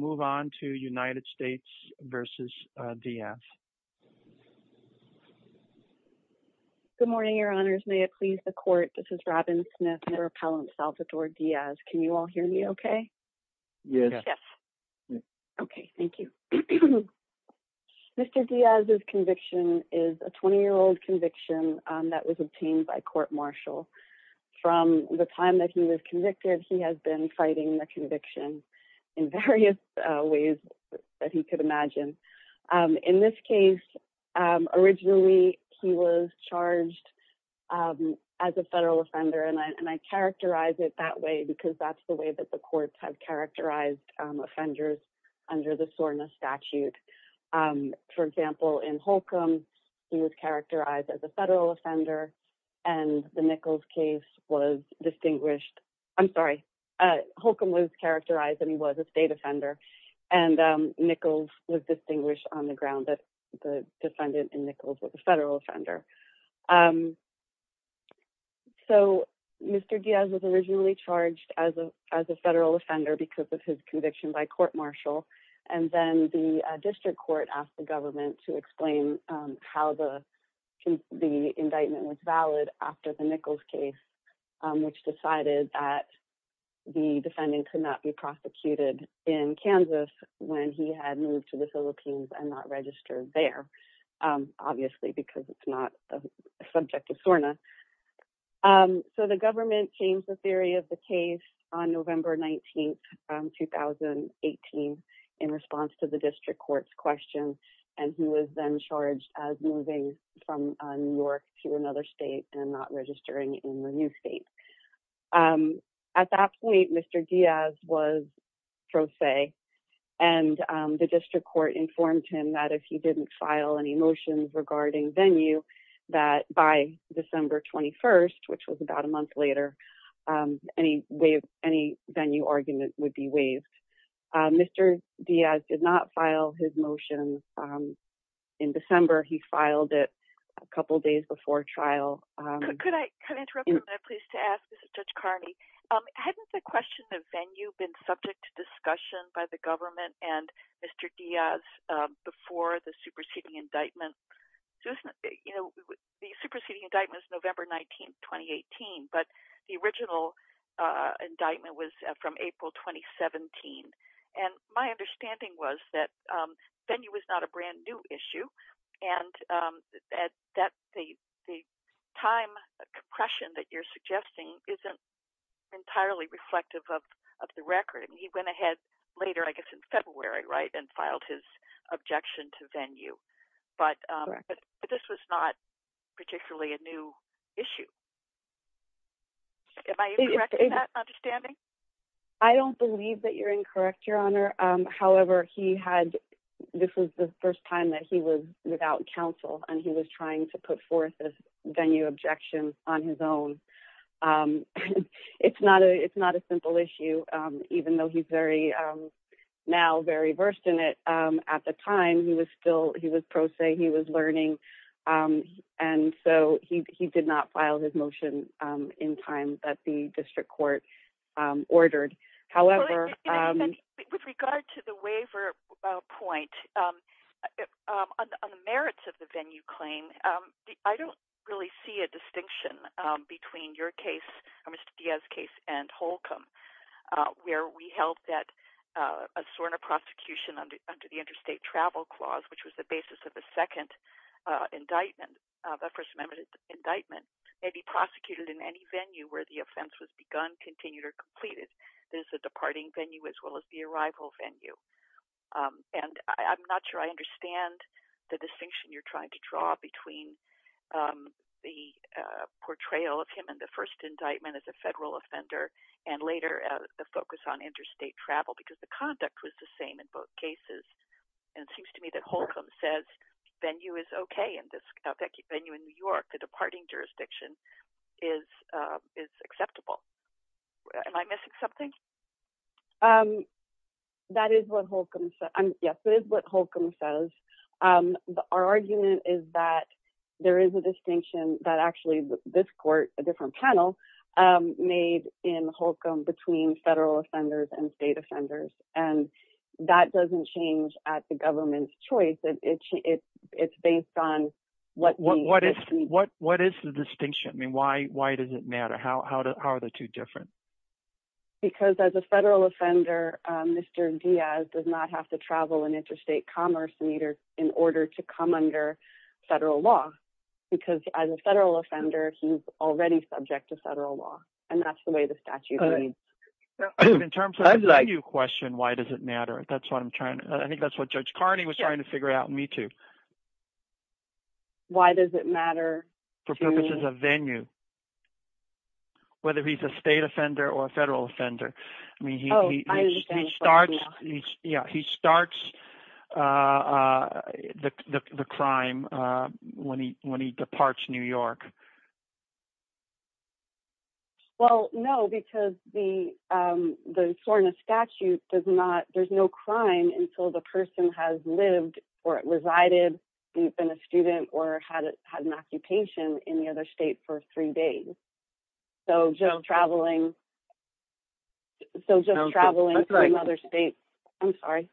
Good morning, Your Honors. May it please the Court, this is Robin Smith, Mayor Appellant Salvatore Diaz. Can you all hear me okay? Yes. Okay, thank you. Mr. Diaz's conviction is a 20-year-old conviction that was obtained by court-martial. From the time that he was ways that he could imagine. In this case, originally he was charged as a federal offender and I characterize it that way because that's the way that the courts have characterized offenders under the SORNA statute. For example, in Holcomb, he was characterized as a federal offender and the Nichols case was distinguished. I'm sorry, Holcomb was characterized and he was a state offender and Nichols was distinguished on the ground that the defendant in Nichols was a federal offender. So, Mr. Diaz was originally charged as a federal offender because of his conviction by court-martial and then the district court asked the government to explain how the indictment was valid after the Nichols case, which decided that the defendant could not be in Kansas when he had moved to the Philippines and not registered there, obviously because it's not a subject of SORNA. So, the government changed the theory of the case on November 19th, 2018 in response to the district court's question and he was then charged as moving from New York to another state and not registering in the new state. At that point, Mr. Diaz was pro se and the district court informed him that if he didn't file any motions regarding venue that by December 21st, which was about a month later, any venue argument would be waived. Mr. Diaz did not file his motion in December. He filed it a couple days before trial. Could I interrupt you for a minute, please, to ask? This is Judge Carney. Hadn't the question of venue been subject to discussion by the government and Mr. Diaz before the superseding indictment? The superseding indictment was November 19th, 2018, but the original indictment was from April 2017 and my understanding was that venue was not a brand new issue and that the time compression that you're suggesting isn't entirely reflective of the record. He went ahead later, I guess in February, and filed his objection to venue, but this was not particularly a new issue. Am I incorrect in that understanding? I don't believe that you're correct, Your Honor. However, this was the first time that he was without counsel and he was trying to put forth this venue objection on his own. It's not a simple issue, even though he's now very versed in it. At the time, he was pro se, he was learning, and so he did not file his motion in time that the district court ordered. However... With regard to the waiver point, on the merits of the venue claim, I don't really see a distinction between your case, Mr. Diaz's case, and Holcomb, where we held that a sort of prosecution under the interstate travel clause, which was the basis of the second indictment, the First Amendment indictment, may be prosecuted in any venue where the offense was begun, continued, or completed. There's a departing venue as well as the arrival venue. And I'm not sure I understand the distinction you're trying to draw between the portrayal of him in the first indictment as a federal offender and later the focus on says venue is okay in this venue in New York, the departing jurisdiction is acceptable. Am I missing something? That is what Holcomb says. Yes, that is what Holcomb says. Our argument is that there is a distinction that actually this court, a different panel, made in Holcomb between federal offenders and state offenders. And that doesn't change at government's choice. It's based on what is the distinction? I mean, why does it matter? How are the two different? Because as a federal offender, Mr. Diaz does not have to travel an interstate commerce meter in order to come under federal law. Because as a federal offender, he's already subject to federal law. And that's the way the statute reads. In terms of the venue question, why does it matter? I think that's what Judge Carney was trying to figure out in Me Too. Why does it matter? For purposes of venue, whether he's a state offender or a federal offender. He starts the crime when he departs New York. Well, no, because the SORNA statute does not, there's no crime until the person has lived or resided and been a student or had an occupation in the other state for three days. So, Joe, traveling from another state, I'm sorry.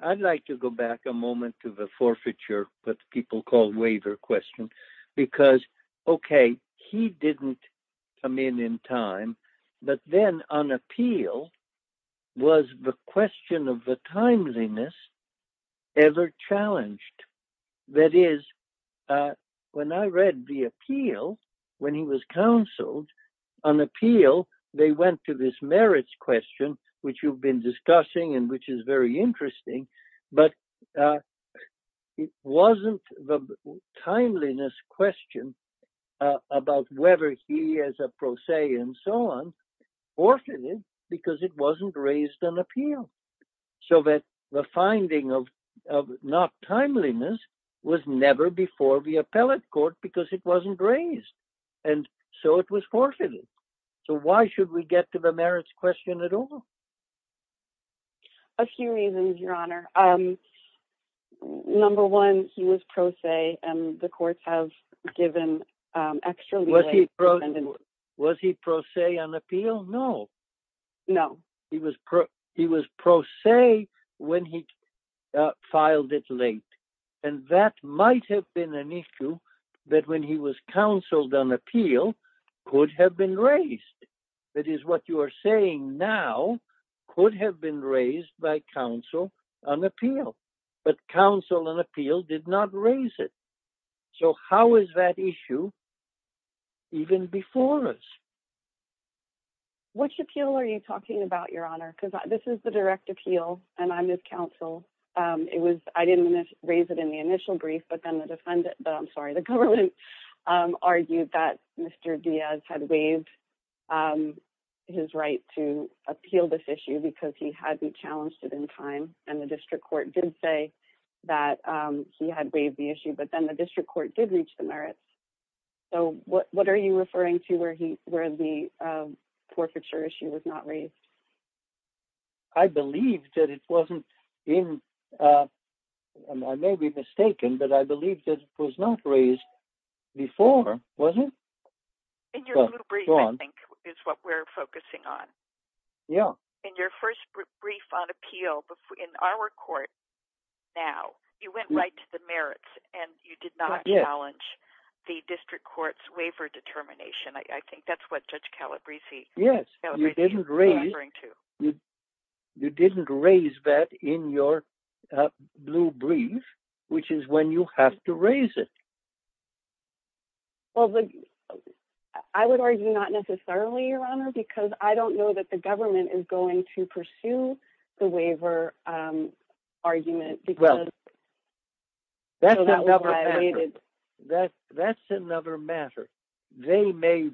I'd like to go back a moment to the forfeiture, what people call waiver question, because, okay, he didn't come in in time. But then on appeal, was the question of the timeliness ever challenged? That is, when I read the appeal, when he was counseled on appeal, they went to this merits question, which you've been discussing, and which is very interesting. But it wasn't the timeliness question about whether he as a pro se and so on, forfeited because it wasn't raised on appeal. So that the finding of not timeliness was never before the appellate court because it wasn't raised. And so it was forfeited. So why should we get to the merits question at all? A few reasons, your honor. Number one, he was pro se and the courts have given extra. Was he pro se on appeal? No. No, he was pro se when he filed it late. And that might have been an issue that when he was counseled on appeal, could have been raised. That is what you're saying now, could have been raised by counsel on appeal. But counsel on appeal did not raise it. So how is that issue even before us? Which appeal are you talking about, your honor? Because this is the direct appeal, and I'm his counsel. It was, I didn't raise it in the initial brief, but then the defendant, I'm sorry, the government argued that Mr. Diaz had waived his right to appeal this issue because he had been challenged it in time. And the district court did say that he had waived the issue, but then the district court did reach the merits. So what are you referring to where the forfeiture issue was not raised? I believe that it wasn't in, I may be mistaken, but I believe that it was not raised before, was it? In your brief, I think, is what we're focusing on. Yeah. In your first brief on appeal in our court now, you went right to the merits and you did not challenge the district court's to. You didn't raise that in your blue brief, which is when you have to raise it. Well, I would argue not necessarily, your honor, because I don't know that the government is going to pursue the waiver argument because that's another matter. They may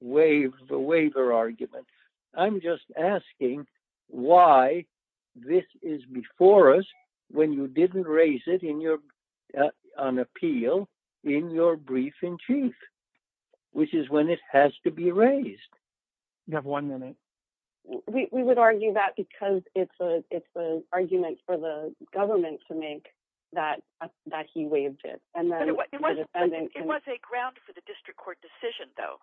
waive the waiver argument. I'm just asking why this is before us when you didn't raise it on appeal in your brief in chief, which is when it has to be raised. You have one minute. We would argue that because it's an argument for the government to make that he waived it. It was a ground for the district court decision though,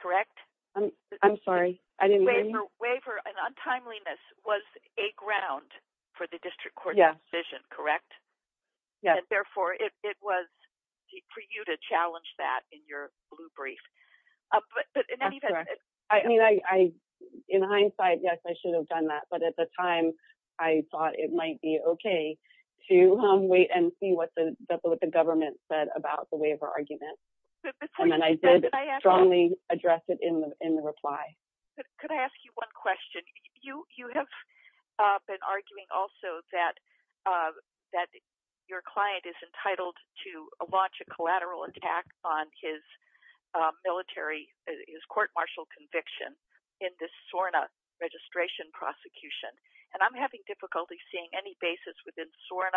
correct? I'm sorry. I didn't hear you. Waiver and untimeliness was a ground for the district court decision, correct? Yeah. Therefore, it was for you to challenge that in your blue brief. In hindsight, yes, I should have done that. But at the time, I thought it might be okay to wait and see what the government said about the waiver argument. Then I did strongly address it in the reply. Could I ask you one question? You have been arguing also that your client is entitled to launch a collateral attack on his court martial conviction in this SORNA registration prosecution. I'm having difficulty seeing any basis within position.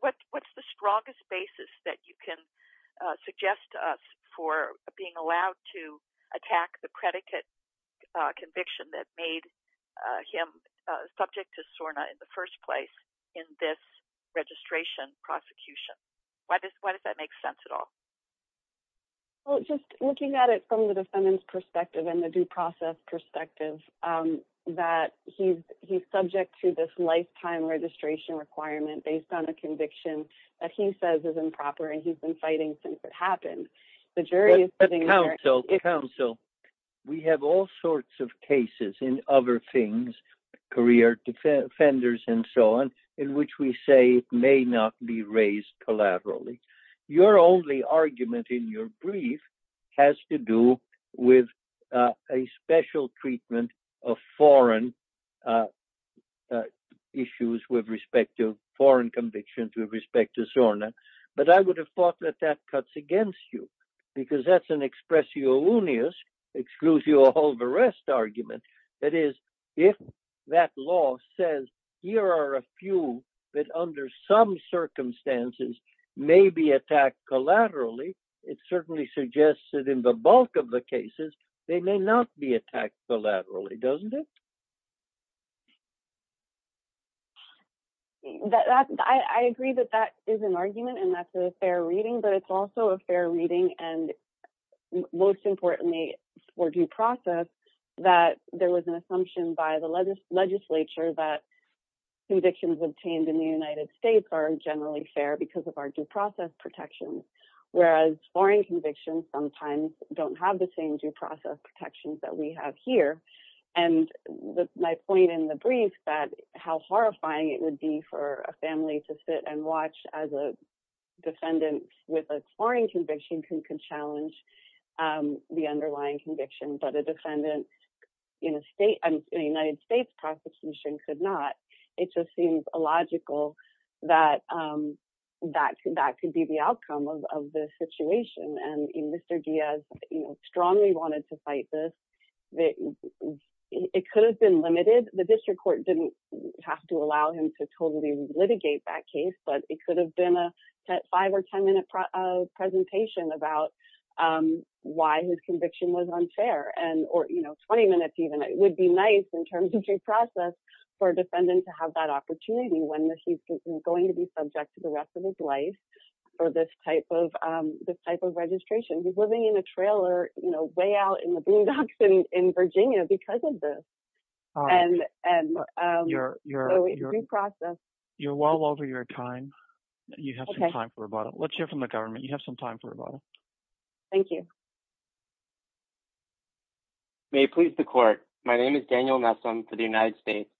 What's the strongest basis that you can suggest to us for being allowed to attack the predicate conviction that made him subject to SORNA in the first place in this registration prosecution? Why does that make sense at all? Just looking at it from the defendant's perspective and the due process perspective, that he's subject to this lifetime registration requirement based on a conviction that he says is improper and he's been fighting since it happened. The jury is sitting there- Counsel, we have all sorts of cases in other things, career offenders and so on, in which we say may not be raised collaterally. Your only argument in your brief has to do with a special treatment of foreign issues with respect to foreign convictions with respect to SORNA. But I would have thought that that cuts against you, because that's an expressio unius, exclusio all the rest argument. That is, if that law says here are a few that under some circumstances may be attacked collaterally, it certainly suggests that in the bulk of the cases, they may not be attacked collaterally, doesn't it? I agree that that is an argument and that's a fair reading, but it's also a fair reading and most importantly for due process, that there was an assumption by the legislature that convictions obtained in the United States are generally fair because of our due process protections, whereas foreign convictions sometimes don't have the same due process protections that we have here. And my point in the brief that how horrifying it would be for a family to sit and watch as a defendant with a foreign conviction can challenge the underlying conviction, but a defendant in a United States prosecution could not. It just seems illogical that that could be the outcome of the situation. And Mr. Diaz strongly wanted to fight this. It could have been limited. The district court didn't have to allow him to totally litigate that case, but it could have been a five or 10 minute presentation about why his conviction was unfair, or 20 minutes even. It would be nice in terms of due process for a defendant to have that opportunity when he's going to be subject to the rest of his life or this type of registration. He's living in a trailer, you know, way out in the boondocks in Virginia because of this and due process. You're well over your time. You have some time for rebuttal. Let's hear from the government. You have some time for rebuttal. Thank you. Daniel Messam May please the court. My name is Daniel Messam for the United States.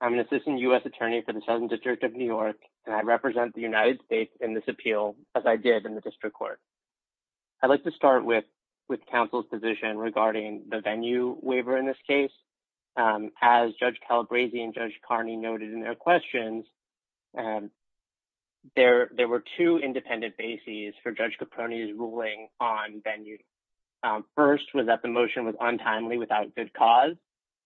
I'm an assistant U.S. attorney for the Southern District of New York, and I represent the United States in this appeal as I did in the district court. I'd like to start with counsel's position regarding the venue waiver in this case. As Judge Calabresi and Judge Carney noted in their questions, there were two independent bases for Judge Caproni's ruling on venue. First was that the motion was untimely without good cause,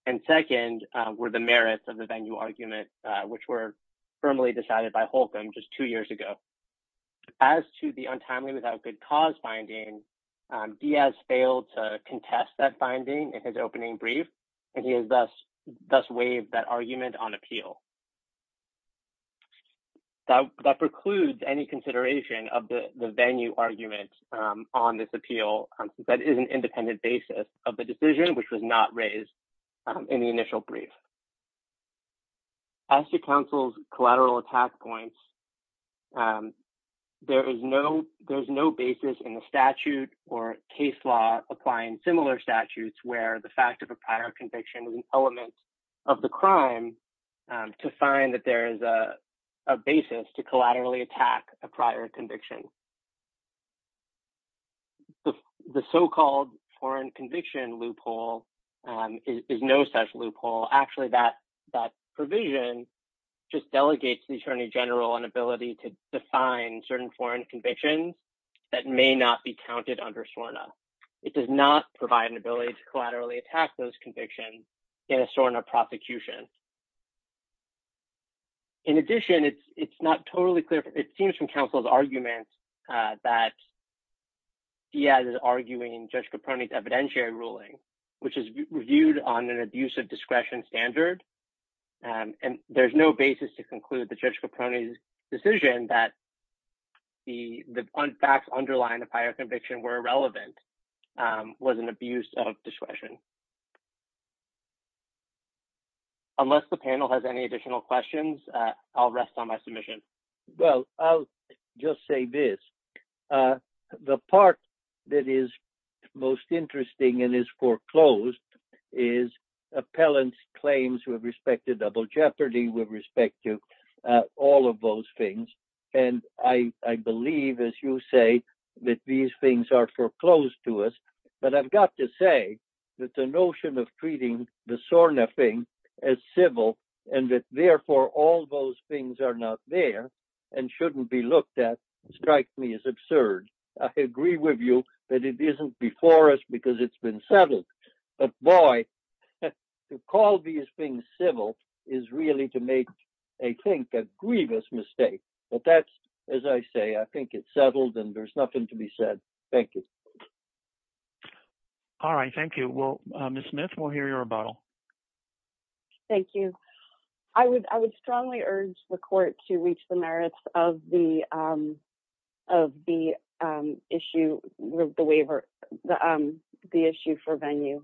and second were the merits of the venue argument, which were firmly decided by Holcomb just two years ago. As to the untimely without good cause finding, Diaz failed to contest that finding in his opening brief, and he has thus waived that argument on appeal. That precludes any consideration of the venue argument on this appeal. That is an independent basis of the decision, which was not raised in the initial brief. As to counsel's collateral attack points, there's no basis in the statute or case law applying similar statutes where the fact of prior conviction is an element of the crime to find that there is a basis to collaterally attack a prior conviction. The so-called foreign conviction loophole is no such loophole. Actually, that provision just delegates the attorney general an ability to define certain foreign convictions that may not be counted under SORNA. It does not provide an ability to collaterally attack those convictions in a SORNA prosecution. In addition, it's not totally clear. It seems from counsel's arguments that Diaz is arguing Judge Caprone's evidentiary ruling, which is reviewed on an abuse of discretion standard, and there's no basis to conclude that Judge Caprone's decision that the facts underlying prior conviction were irrelevant was an abuse of discretion. Unless the panel has any additional questions, I'll rest on my submission. Well, I'll just say this. The part that is most interesting and is foreclosed is appellant's claims with respect to double jeopardy, with respect to all of those things, and I believe, as you say, that these things are foreclosed to us, but I've got to say that the notion of treating the SORNA thing as civil and that therefore all those things are not there and shouldn't be looked at strikes me as absurd. I agree with you that it isn't before us because it's been settled, but boy, to call these things civil is really to make, I think, a grievous mistake, but that's, as I say, I think it's settled and there's nothing to be said. Thank you. All right. Thank you. Well, Ms. Smith, we'll hear your rebuttal. Thank you. I would strongly urge the court to reach the merits of the issue for venue.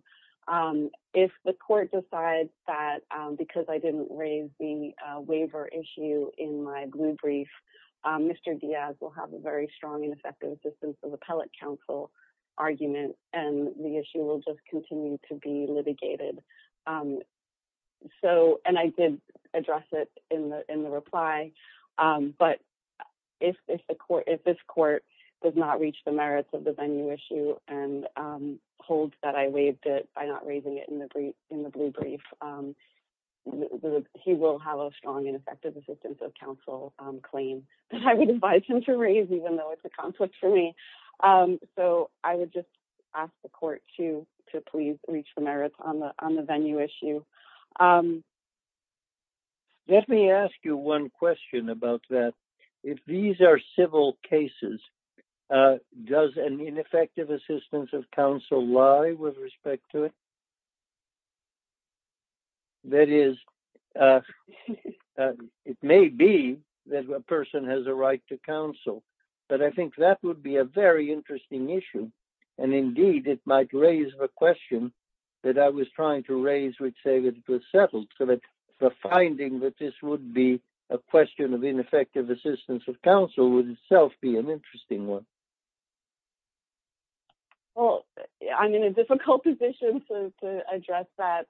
If the court decides that because I didn't raise the waiver issue in my blue brief, Mr. Diaz will have a very strong and effective assistance of appellate counsel argument and the issue will just continue to be litigated, and I did address it in the reply, but if this court does not reach the merits of the venue issue and holds that I waived it by not raising it in the blue brief, he will have a strong and effective assistance of counsel claim that I would advise him to raise, even though it's a conflict for me, so I would just ask the court to please reach the merits on the venue issue. Let me ask you one question about that. If these are civil cases, does an ineffective assistance of counsel lie with respect to it? That is, it may be that a person has a right to counsel, but I think that would be a very interesting issue, and indeed, it might raise the question that I was trying to raise, which say that it was settled, so that the finding that this would be a question of ineffective assistance of counsel would itself be an interesting one. Well, I'm in a difficult position to address that,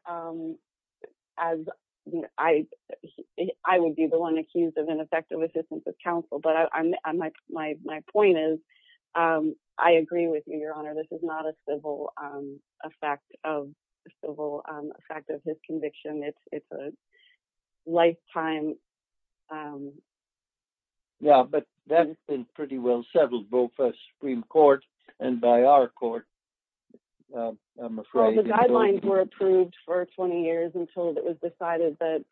as I would be the one accused of ineffective assistance of counsel, but my point is I agree with you, Your Honor. This is not a civil effect of his conviction. It's a lifetime... Yeah, but that's been pretty well settled, both by the Supreme Court and by our court, I'm afraid. Well, the guidelines were approved for 20 years until it was decided that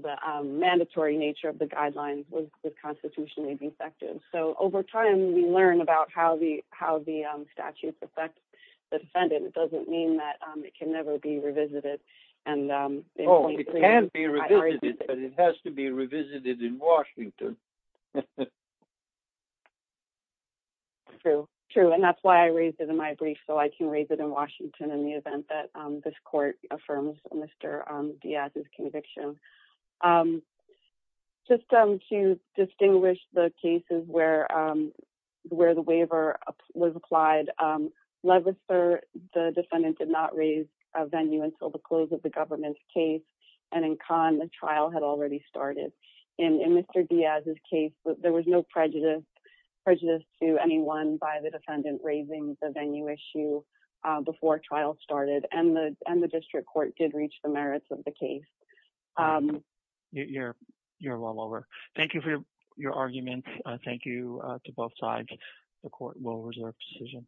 the mandatory nature of the guidelines was constitutionally defective, so over time, we learn about how the statutes affect the defendant. It doesn't mean that it can never be revisited. Oh, it can be revisited, but it has to be revisited in Washington. True, true, and that's why I raised it in my brief, so I can raise it in Washington in the event that this court affirms Mr. Diaz's conviction. Just to distinguish the cases where the waiver was applied, Levitzer, the defendant, did not raise a venue until the close of the government's case, and in Kahn, the trial had already started. In Mr. Diaz's case, there was no prejudice to anyone by the defendant raising the venue issue before trial started, and the district court did reach the merits of the case. You're well over. Thank you for your argument. Thank you to both sides. The court will reserve decision.